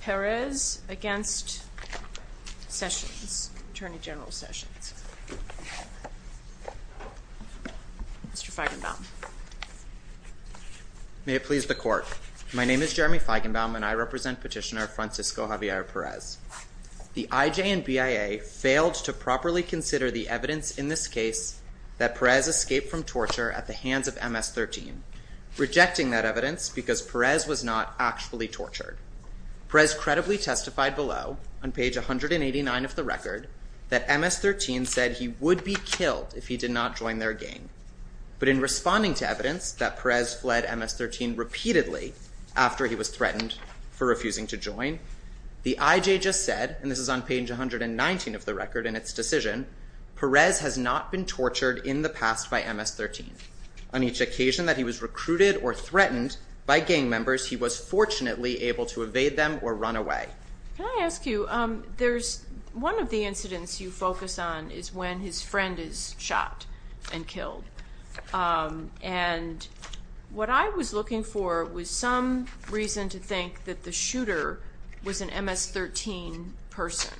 Perez v. Sessions, Attorney General Sessions Mr. Feigenbaum May it please the Court. My name is Jeremy Feigenbaum and I represent Petitioner Francisco Javier Perez. The IJ and BIA failed to properly consider the evidence in this case that Perez escaped from torture at the hands of MS-13, rejecting that evidence because Perez was not actually tortured. Perez credibly testified below, on page 189 of the record, that MS-13 said he would be killed if he did not join their gang. But in responding to evidence that Perez fled MS-13 repeatedly after he was threatened for refusing to join, the IJ just said, and this is on page 119 of the record in its decision, Perez has not been tortured in the past by MS-13. On each occasion that he was recruited or threatened by gang members, he was fortunately able to evade them or run away. Can I ask you, there's one of the incidents you focus on is when his friend is shot and killed. And what I was looking for was some reason to think that the shooter was an MS-13 person.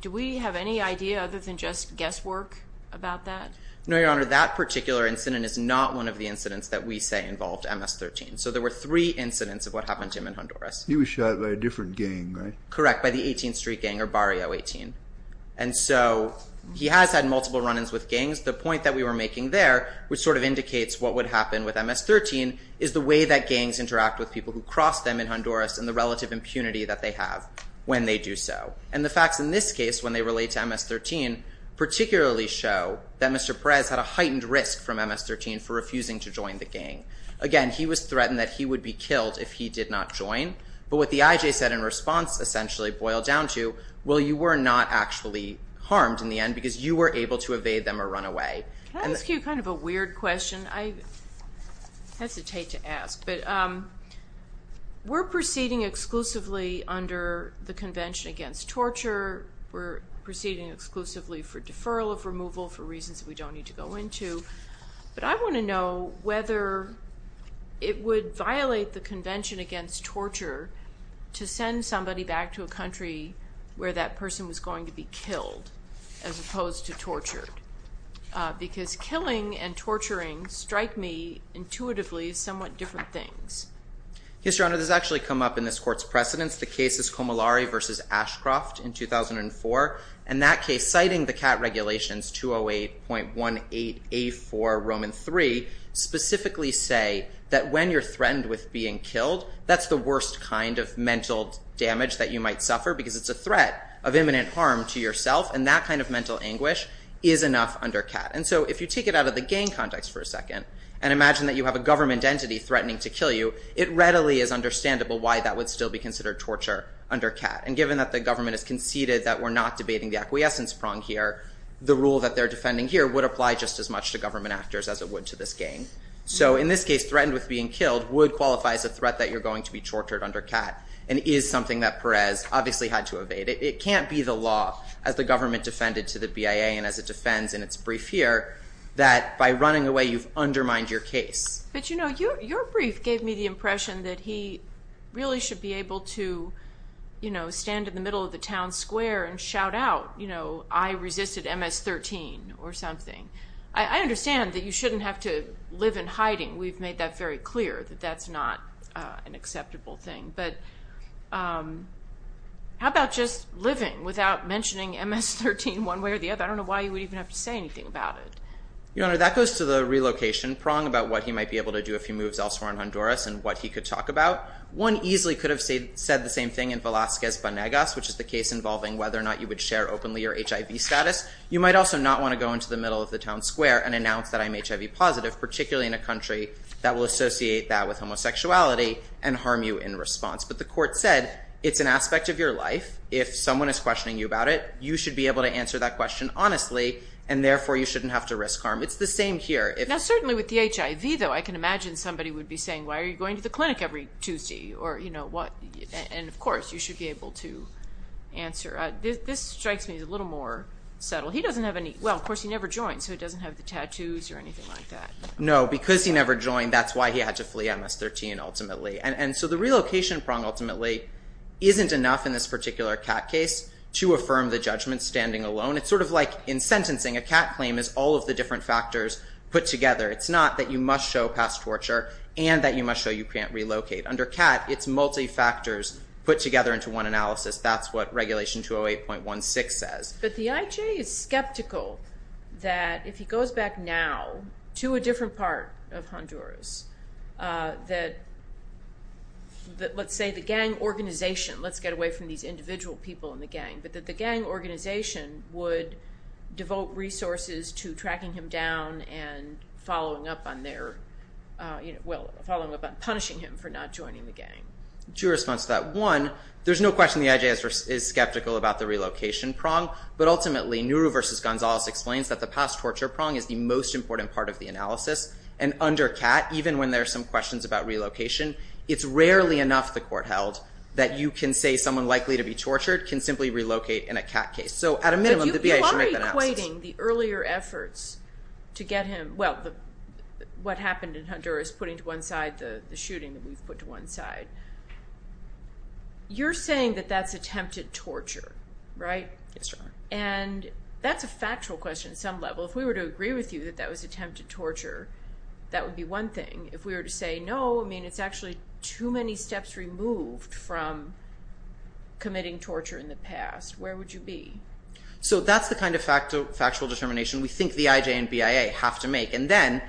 Do we have any idea other than just guesswork about that? No, Your Honor, that particular incident is not one of the incidents that we say involved MS-13. So there were three incidents of what happened to him in Honduras. He was shot by a different gang, right? Correct, by the 18th Street Gang or Barrio 18. And so he has had multiple run-ins with gangs. The point that we were making there, which sort of indicates what would happen with MS-13, is the way that gangs interact with people who cross them in Honduras and the relative impunity that they have when they do so. And the facts in this case, when they relate to MS-13, particularly show that Mr. Perez had a heightened risk from MS-13 for refusing to join the gang. Again, he was threatened that he would be killed if he did not join. But what the IJ said in response essentially boiled down to, well, you were not actually harmed in the end because you were able to evade them or run away. Can I ask you kind of a weird question? I hesitate to ask. But we're proceeding exclusively under the Convention Against Torture. We're proceeding exclusively for deferral of removal for reasons that we don't need to go into. But I want to know whether it would violate the Convention Against Torture to send somebody back to a country where that person was going to be killed as opposed to tortured. Because killing and torturing strike me intuitively as somewhat different things. Yes, Your Honor. This has actually come up in this court's precedence. The case is Comillari v. Ashcroft in 2004. In that case, citing the CAT regulations, 208.18A4, Roman III, specifically say that when you're threatened with being killed, that's the worst kind of mental damage that you might suffer because it's a threat of imminent harm to yourself. And that kind of mental anguish is enough under CAT. And so if you take it out of the gang context for a second and imagine that you have a government entity threatening to kill you, it readily is understandable why that would still be considered torture under CAT. And given that the government has conceded that we're not debating the acquiescence prong here, the rule that they're defending here would apply just as much to government actors as it would to this gang. So in this case, threatened with being killed would qualify as a threat that you're going to be tortured under CAT and is something that Perez obviously had to evade. It can't be the law, as the government defended to the BIA and as it defends in its brief here, that by running away you've undermined your case. But, you know, your brief gave me the impression that he really should be able to, you know, stand in the middle of the town square and shout out, you know, I resisted MS-13 or something. I understand that you shouldn't have to live in hiding. We've made that very clear that that's not an acceptable thing. But how about just living without mentioning MS-13 one way or the other? I don't know why you would even have to say anything about it. Your Honor, that goes to the relocation prong about what he might be able to do if he moves elsewhere in Honduras and what he could talk about. One easily could have said the same thing in Velazquez-Banegas, which is the case involving whether or not you would share openly your HIV status. You might also not want to go into the middle of the town square and announce that I'm HIV positive, particularly in a country that will associate that with homosexuality and harm you in response. But the court said it's an aspect of your life. If someone is questioning you about it, you should be able to answer that question honestly, and therefore you shouldn't have to risk harm. It's the same here. Now, certainly with the HIV, though, I can imagine somebody would be saying, why are you going to the clinic every Tuesday or, you know, what? And, of course, you should be able to answer. This strikes me as a little more subtle. He doesn't have any – well, of course, he never joined, so he doesn't have the tattoos or anything like that. No, because he never joined, that's why he had to flee MS-13 ultimately. And so the relocation prong ultimately isn't enough in this particular CAT case to affirm the judgment standing alone. It's sort of like in sentencing. A CAT claim is all of the different factors put together. It's not that you must show past torture and that you must show you can't relocate. Under CAT, it's multi-factors put together into one analysis. That's what Regulation 208.16 says. But the IJ is skeptical that if he goes back now to a different part of Honduras that, let's say, the gang organization – let's get away from these individual people in the gang – but that the gang organization would devote resources to tracking him down and following up on their – well, following up on punishing him for not joining the gang. Two responses to that. One, there's no question the IJ is skeptical about the relocation prong, but ultimately Nuru v. Gonzalez explains that the past torture prong is the most important part of the analysis. And under CAT, even when there are some questions about relocation, it's rarely enough, the court held, that you can say someone likely to be tortured can simply relocate in a CAT case. So at a minimum, the BIA should make the analysis. But you are equating the earlier efforts to get him – well, what happened in Honduras, putting to one side the shooting that we've put to one side. You're saying that that's attempted torture, right? Yes, ma'am. And that's a factual question at some level. If we were to agree with you that that was attempted torture, that would be one thing. If we were to say, no, I mean, it's actually too many steps removed from committing torture in the past, where would you be? So that's the kind of factual determination we think the IJ and BIA have to make. And then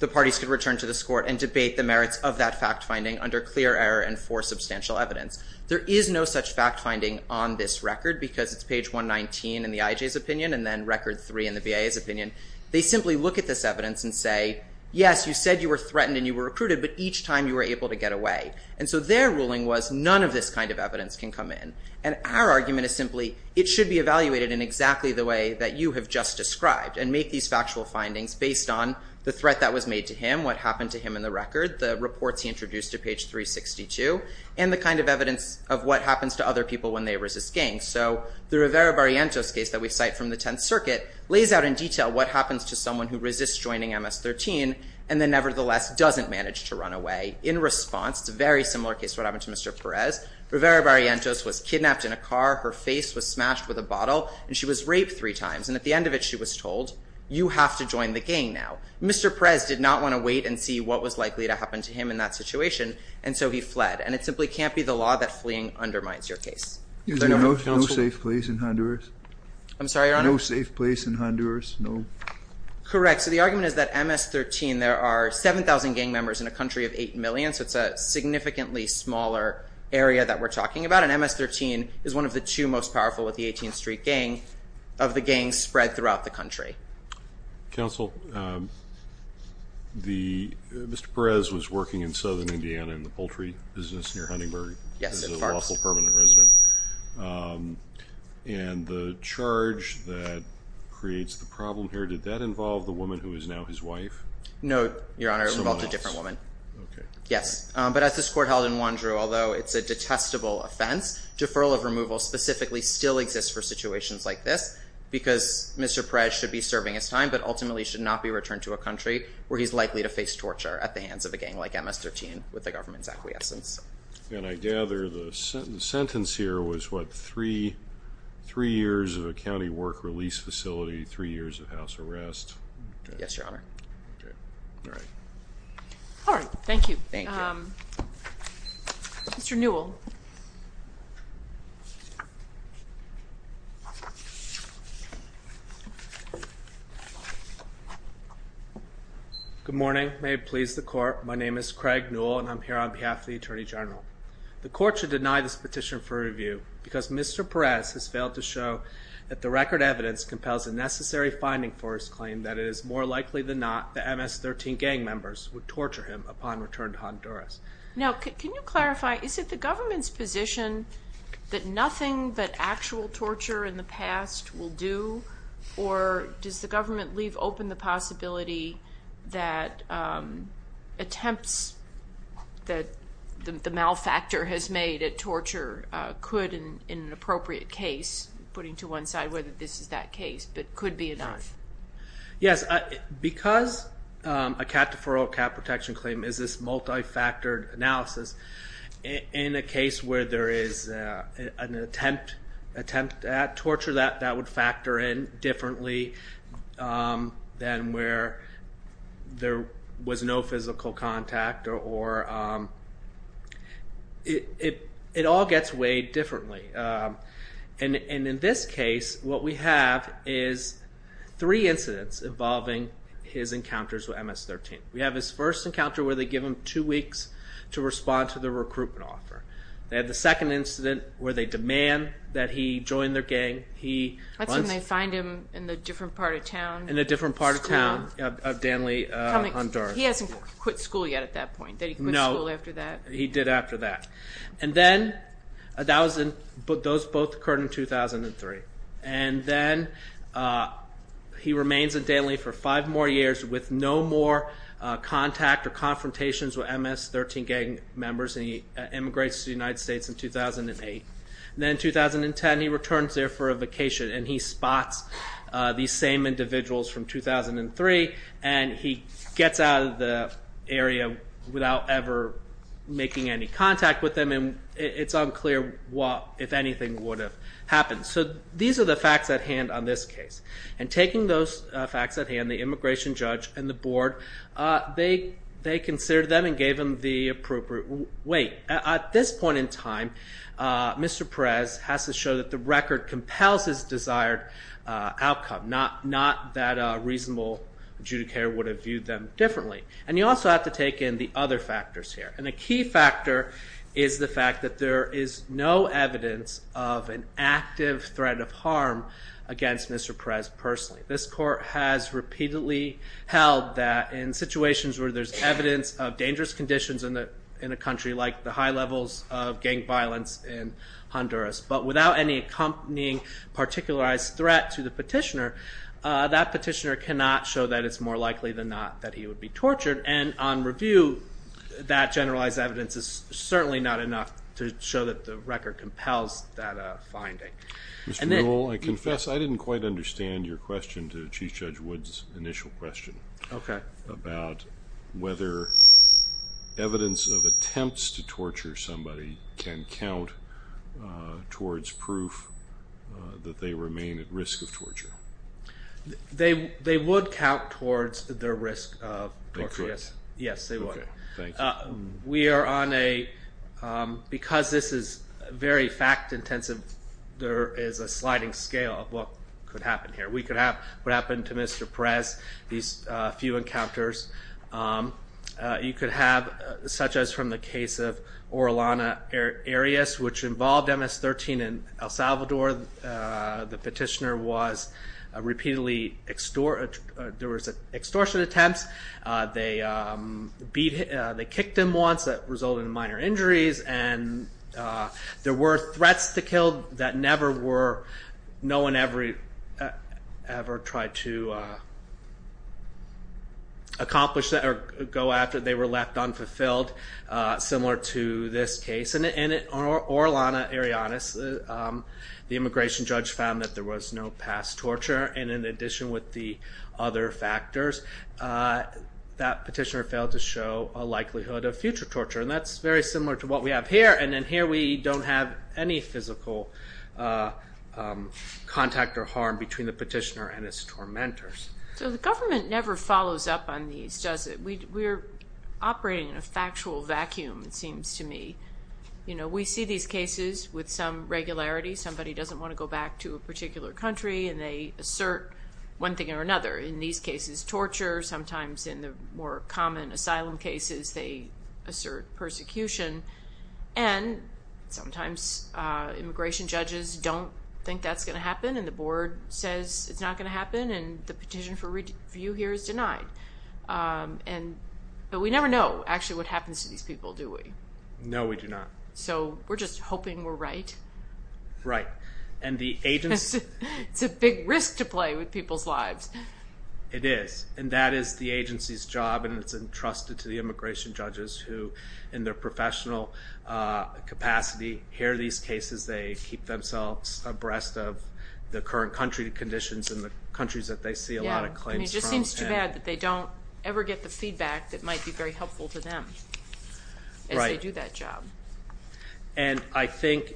the parties can return to this court and debate the merits of that fact-finding under clear error and for substantial evidence. There is no such fact-finding on this record because it's page 119 in the IJ's opinion and then record three in the BIA's opinion. They simply look at this evidence and say, yes, you said you were threatened and you were recruited, but each time you were able to get away. And so their ruling was none of this kind of evidence can come in. And our argument is simply it should be evaluated in exactly the way that you have just described and make these factual findings based on the threat that was made to him, what happened to him in the record, the reports he introduced to page 362, and the kind of evidence of what happens to other people when they resist gang. So the Rivera-Barrientos case that we cite from the Tenth Circuit lays out in detail what happens to someone who resists joining MS-13 and then nevertheless doesn't manage to run away. In response, it's a very similar case to what happened to Mr. Perez. Rivera-Barrientos was kidnapped in a car, her face was smashed with a bottle, and she was raped three times. And at the end of it, she was told, you have to join the gang now. Mr. Perez did not want to wait and see what was likely to happen to him in that situation, and so he fled. And it simply can't be the law that fleeing undermines your case. Is there no safe place in Honduras? I'm sorry, Your Honor? No safe place in Honduras? No? Correct. So the argument is that MS-13, there are 7,000 gang members in a country of 8 million, so it's a significantly smaller area that we're talking about. And MS-13 is one of the two most powerful of the 18th Street gang, of the gangs spread throughout the country. Counsel, Mr. Perez was working in southern Indiana in the poultry business near Huntingford. Yes, at Farks. As a lawful permanent resident. And the charge that creates the problem here, did that involve the woman who is now his wife? No, Your Honor, it involved a different woman. Okay. Yes, but as this court held in Wondru, although it's a detestable offense, deferral of removal specifically still exists for situations like this, because Mr. Perez should be serving his time but ultimately should not be returned to a country where he's likely to face torture at the hands of a gang like MS-13 with the government's acquiescence. And I gather the sentence here was, what, three years of a county work release facility, three years of house arrest? Yes, Your Honor. Okay. All right. All right. Thank you. Thank you. Mr. Newell. Good morning. May it please the court, my name is Craig Newell, and I'm here on behalf of the Attorney General. The court should deny this petition for review because Mr. Perez has failed to show that the record evidence compels a necessary finding for his claim that it is more likely than not that MS-13 gang members would torture him upon return to Honduras. Now, can you clarify, is it the government's position that nothing but actual torture in the past will do, or does the government leave open the possibility that attempts that the malfactor has made at torture could, in an appropriate case, putting to one side whether this is that case, but could be not? Yes, because a cat deferral or cat protection claim is this multifactored analysis, in a case where there is an attempt at torture that would factor in differently than where there was no physical contact or it all gets weighed differently. And in this case, what we have is three incidents involving his encounters with MS-13. We have his first encounter where they give him two weeks to respond to the recruitment offer. They have the second incident where they demand that he join their gang. That's when they find him in a different part of town. In a different part of town of Danly, Honduras. So he hasn't quit school yet at that point? No. Did he quit school after that? He did after that. And then those both occurred in 2003. And then he remains in Danly for five more years with no more contact or confrontations with MS-13 gang members, and he emigrates to the United States in 2008. Then in 2010, he returns there for a vacation, and he spots these same individuals from 2003, and he gets out of the area without ever making any contact with them, and it's unclear if anything would have happened. So these are the facts at hand on this case. And taking those facts at hand, the immigration judge and the board, they considered them and gave them the appropriate weight. At this point in time, Mr. Perez has to show that the record compels his desired outcome, not that a reasonable adjudicator would have viewed them differently. And you also have to take in the other factors here, and a key factor is the fact that there is no evidence of an active threat of harm against Mr. Perez personally. This court has repeatedly held that in situations where there's evidence of dangerous conditions in a country But without any accompanying particularized threat to the petitioner, that petitioner cannot show that it's more likely than not that he would be tortured. And on review, that generalized evidence is certainly not enough to show that the record compels that finding. Mr. Rule, I confess I didn't quite understand your question to Chief Judge Wood's initial question about whether evidence of attempts to torture somebody can count towards proof that they remain at risk of torture. They would count towards their risk of torture, yes. We are on a, because this is very fact intensive, there is a sliding scale of what could happen here. We could have what happened to Mr. Perez, these few encounters. You could have, such as from the case of Orellana Arias, which involved MS-13 in El Salvador. The petitioner was repeatedly, there was extortion attempts. They kicked him once, that resulted in minor injuries. There were threats to kill that never were, no one ever tried to accomplish or go after. They were left unfulfilled, similar to this case. In Orellana Arias, the immigration judge found that there was no past torture. And in addition with the other factors, that petitioner failed to show a likelihood of future torture. And that's very similar to what we have here. And then here we don't have any physical contact or harm between the petitioner and his tormentors. So the government never follows up on these, does it? We're operating in a factual vacuum, it seems to me. We see these cases with some regularity. Somebody doesn't want to go back to a particular country and they assert one thing or another. In these cases, torture. Sometimes in the more common asylum cases, they assert persecution. And sometimes immigration judges don't think that's going to happen. And the board says it's not going to happen. And the petition for review here is denied. But we never know, actually, what happens to these people, do we? No, we do not. So we're just hoping we're right. Right. And the agents... It's a big risk to play with people's lives. It is. And that is the agency's job, and it's entrusted to the immigration judges who, in their professional capacity, hear these cases, they keep themselves abreast of the current country conditions and the countries that they see a lot of claims from. It just seems too bad that they don't ever get the feedback that might be very helpful to them as they do that job. And I think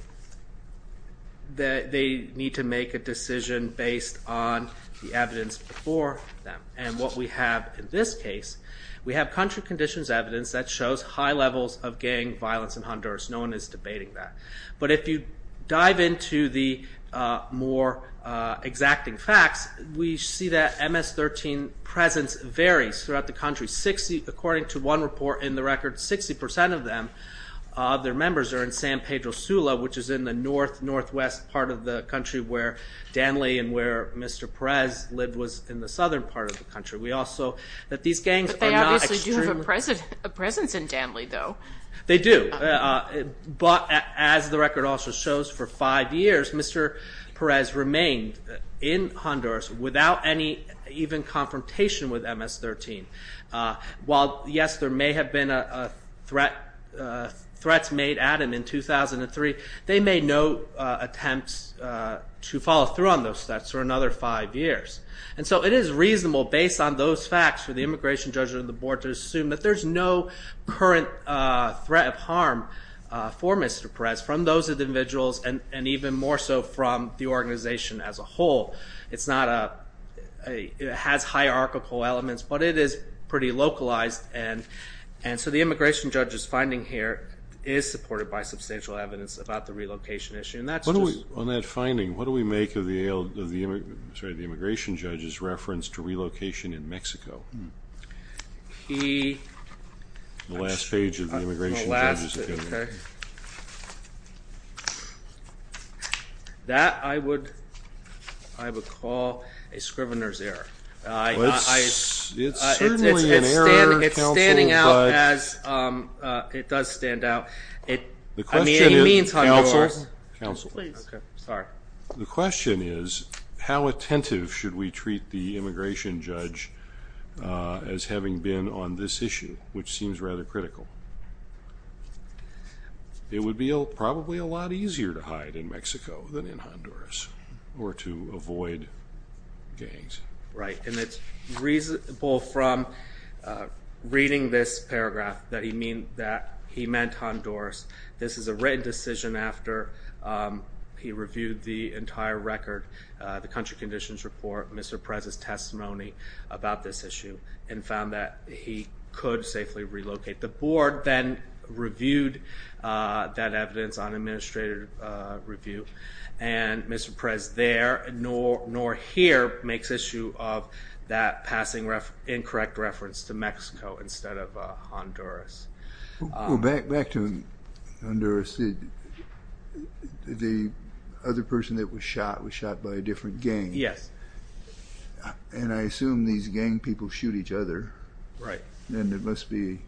that they need to make a decision based on the evidence before them. And what we have in this case, we have country conditions evidence that shows high levels of gang violence in Honduras. No one is debating that. But if you dive into the more exacting facts, we see that MS-13 presence varies throughout the country. According to one report in the record, 60 percent of their members are in San Pedro Sula, which is in the northwest part of the country where Danly and where Mr. Perez lived was in the southern part of the country. But they obviously do have a presence in Danly, though. They do. But as the record also shows, for five years Mr. Perez remained in Honduras without any even confrontation with MS-13. While, yes, there may have been threats made at him in 2003, they made no attempts to follow through on those threats for another five years. And so it is reasonable based on those facts for the immigration judge or the board to assume that there's no current threat of harm for Mr. Perez from those individuals and even more so from the organization as a whole. It has hierarchical elements, but it is pretty localized. And so the immigration judge's finding here is supported by substantial evidence about the relocation issue. On that finding, what do we make of the immigration judge's reference to relocation in Mexico? The last page of the immigration judge's opinion. Okay. That I would call a scrivener's error. It's certainly an error, counsel. It's standing out as it does stand out. I mean, it means Honduras. Counsel, counsel. Please. Sorry. The question is, how attentive should we treat the immigration judge as having been on this issue, which seems rather critical? It would be probably a lot easier to hide in Mexico than in Honduras or to avoid gangs. Right. And it's reasonable from reading this paragraph that he meant Honduras. This is a written decision after he reviewed the entire record, the country conditions report, Mr. Perez's testimony about this issue, and found that he could safely relocate. The board then reviewed that evidence on administrative review, and Mr. Perez there nor here makes issue of that passing incorrect reference to Mexico instead of Honduras. Back to Honduras, the other person that was shot was shot by a different gang. Yes. And I assume these gang people shoot each other. Right. And it must be,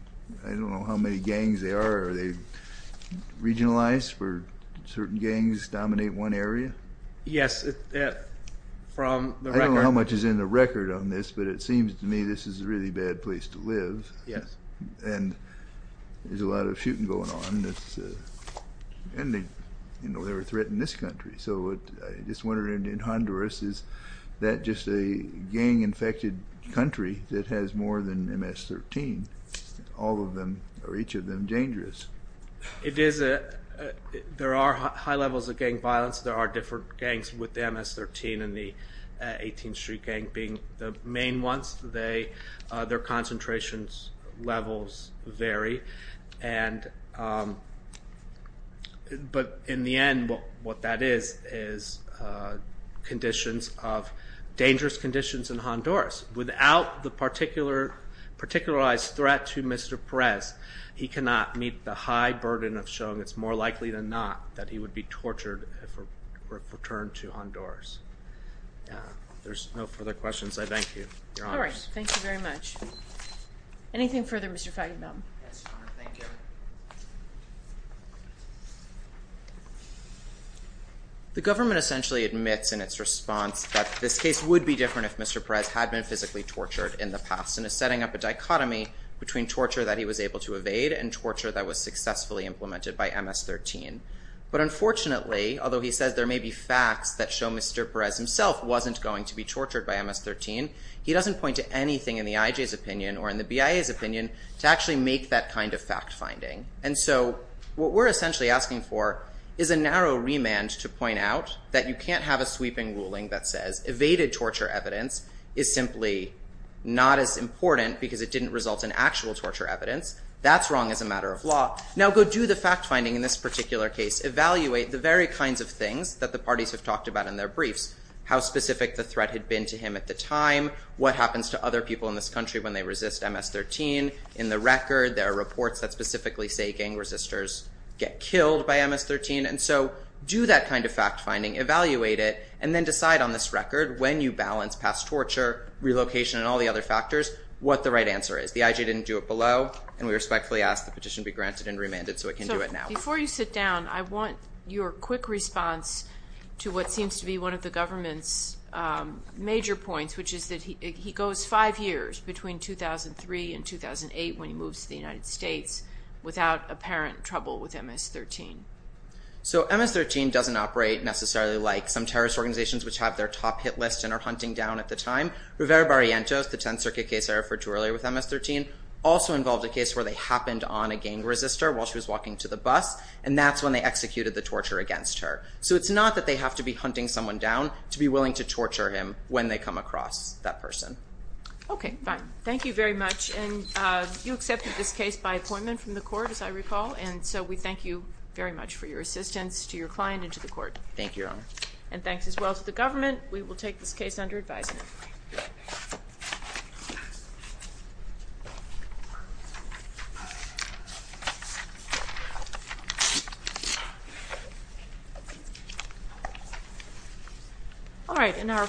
I don't know how many gangs there are. Are they regionalized where certain gangs dominate one area? Yes, from the record. I don't know how much is in the record on this, but it seems to me this is a really bad place to live. Yes. And there's a lot of shooting going on, and they're a threat in this country. So I just wondered in Honduras, is that just a gang-infected country that has more than MS-13? All of them or each of them dangerous? It is. There are high levels of gang violence. There are different gangs with MS-13 and the 18th Street Gang being the main ones. Their concentrations levels vary. But in the end, what that is is dangerous conditions in Honduras. Without the particularized threat to Mr. Perez, he cannot meet the high burden of showing it's more likely than not that he would be tortured if returned to Honduras. There's no further questions. I thank you. Your Honor. All right. Thank you very much. Anything further, Mr. Feigenbaum? Yes, Your Honor. Thank you. The government essentially admits in its response that this case would be different if Mr. Perez had been physically tortured in the past and is setting up a dichotomy between torture that he was able to evade and torture that was successfully implemented by MS-13. But unfortunately, although he says there may be facts that show Mr. Perez himself wasn't going to be tortured by MS-13, he doesn't point to anything in the IJ's opinion or in the BIA's opinion to actually make that kind of fact-finding. And so what we're essentially asking for is a narrow remand to point out that you can't have a sweeping ruling that says evaded torture evidence is simply not as important because it didn't result in actual torture evidence. That's wrong as a matter of law. Now, go do the fact-finding in this particular case. Evaluate the very kinds of things that the parties have talked about in their briefs, how specific the threat had been to him at the time, what happens to other people in this country when they resist MS-13. In the record, there are reports that specifically say gang resisters get killed by MS-13. And so do that kind of fact-finding, evaluate it, and then decide on this record when you balance past torture, relocation, and all the other factors, what the right answer is. The IJ didn't do it below, and we respectfully ask the petition be granted and remanded so it can do it now. So before you sit down, I want your quick response to what seems to be one of the government's major points, which is that he goes five years between 2003 and 2008 when he moves to the United States without apparent trouble with MS-13. So MS-13 doesn't operate necessarily like some terrorist organizations, which have their top hit list and are hunting down at the time. Rivera Barrientos, the 10th Circuit case I referred to earlier with MS-13, also involved a case where they happened on a gang resistor while she was walking to the bus, and that's when they executed the torture against her. So it's not that they have to be hunting someone down to be willing to torture him when they come across that person. Okay, fine. Thank you very much. And you accepted this case by appointment from the court, as I recall, and so we thank you very much for your assistance to your client and to the court. Thank you, Your Honor. And thanks as well to the government. We will take this case under advisement.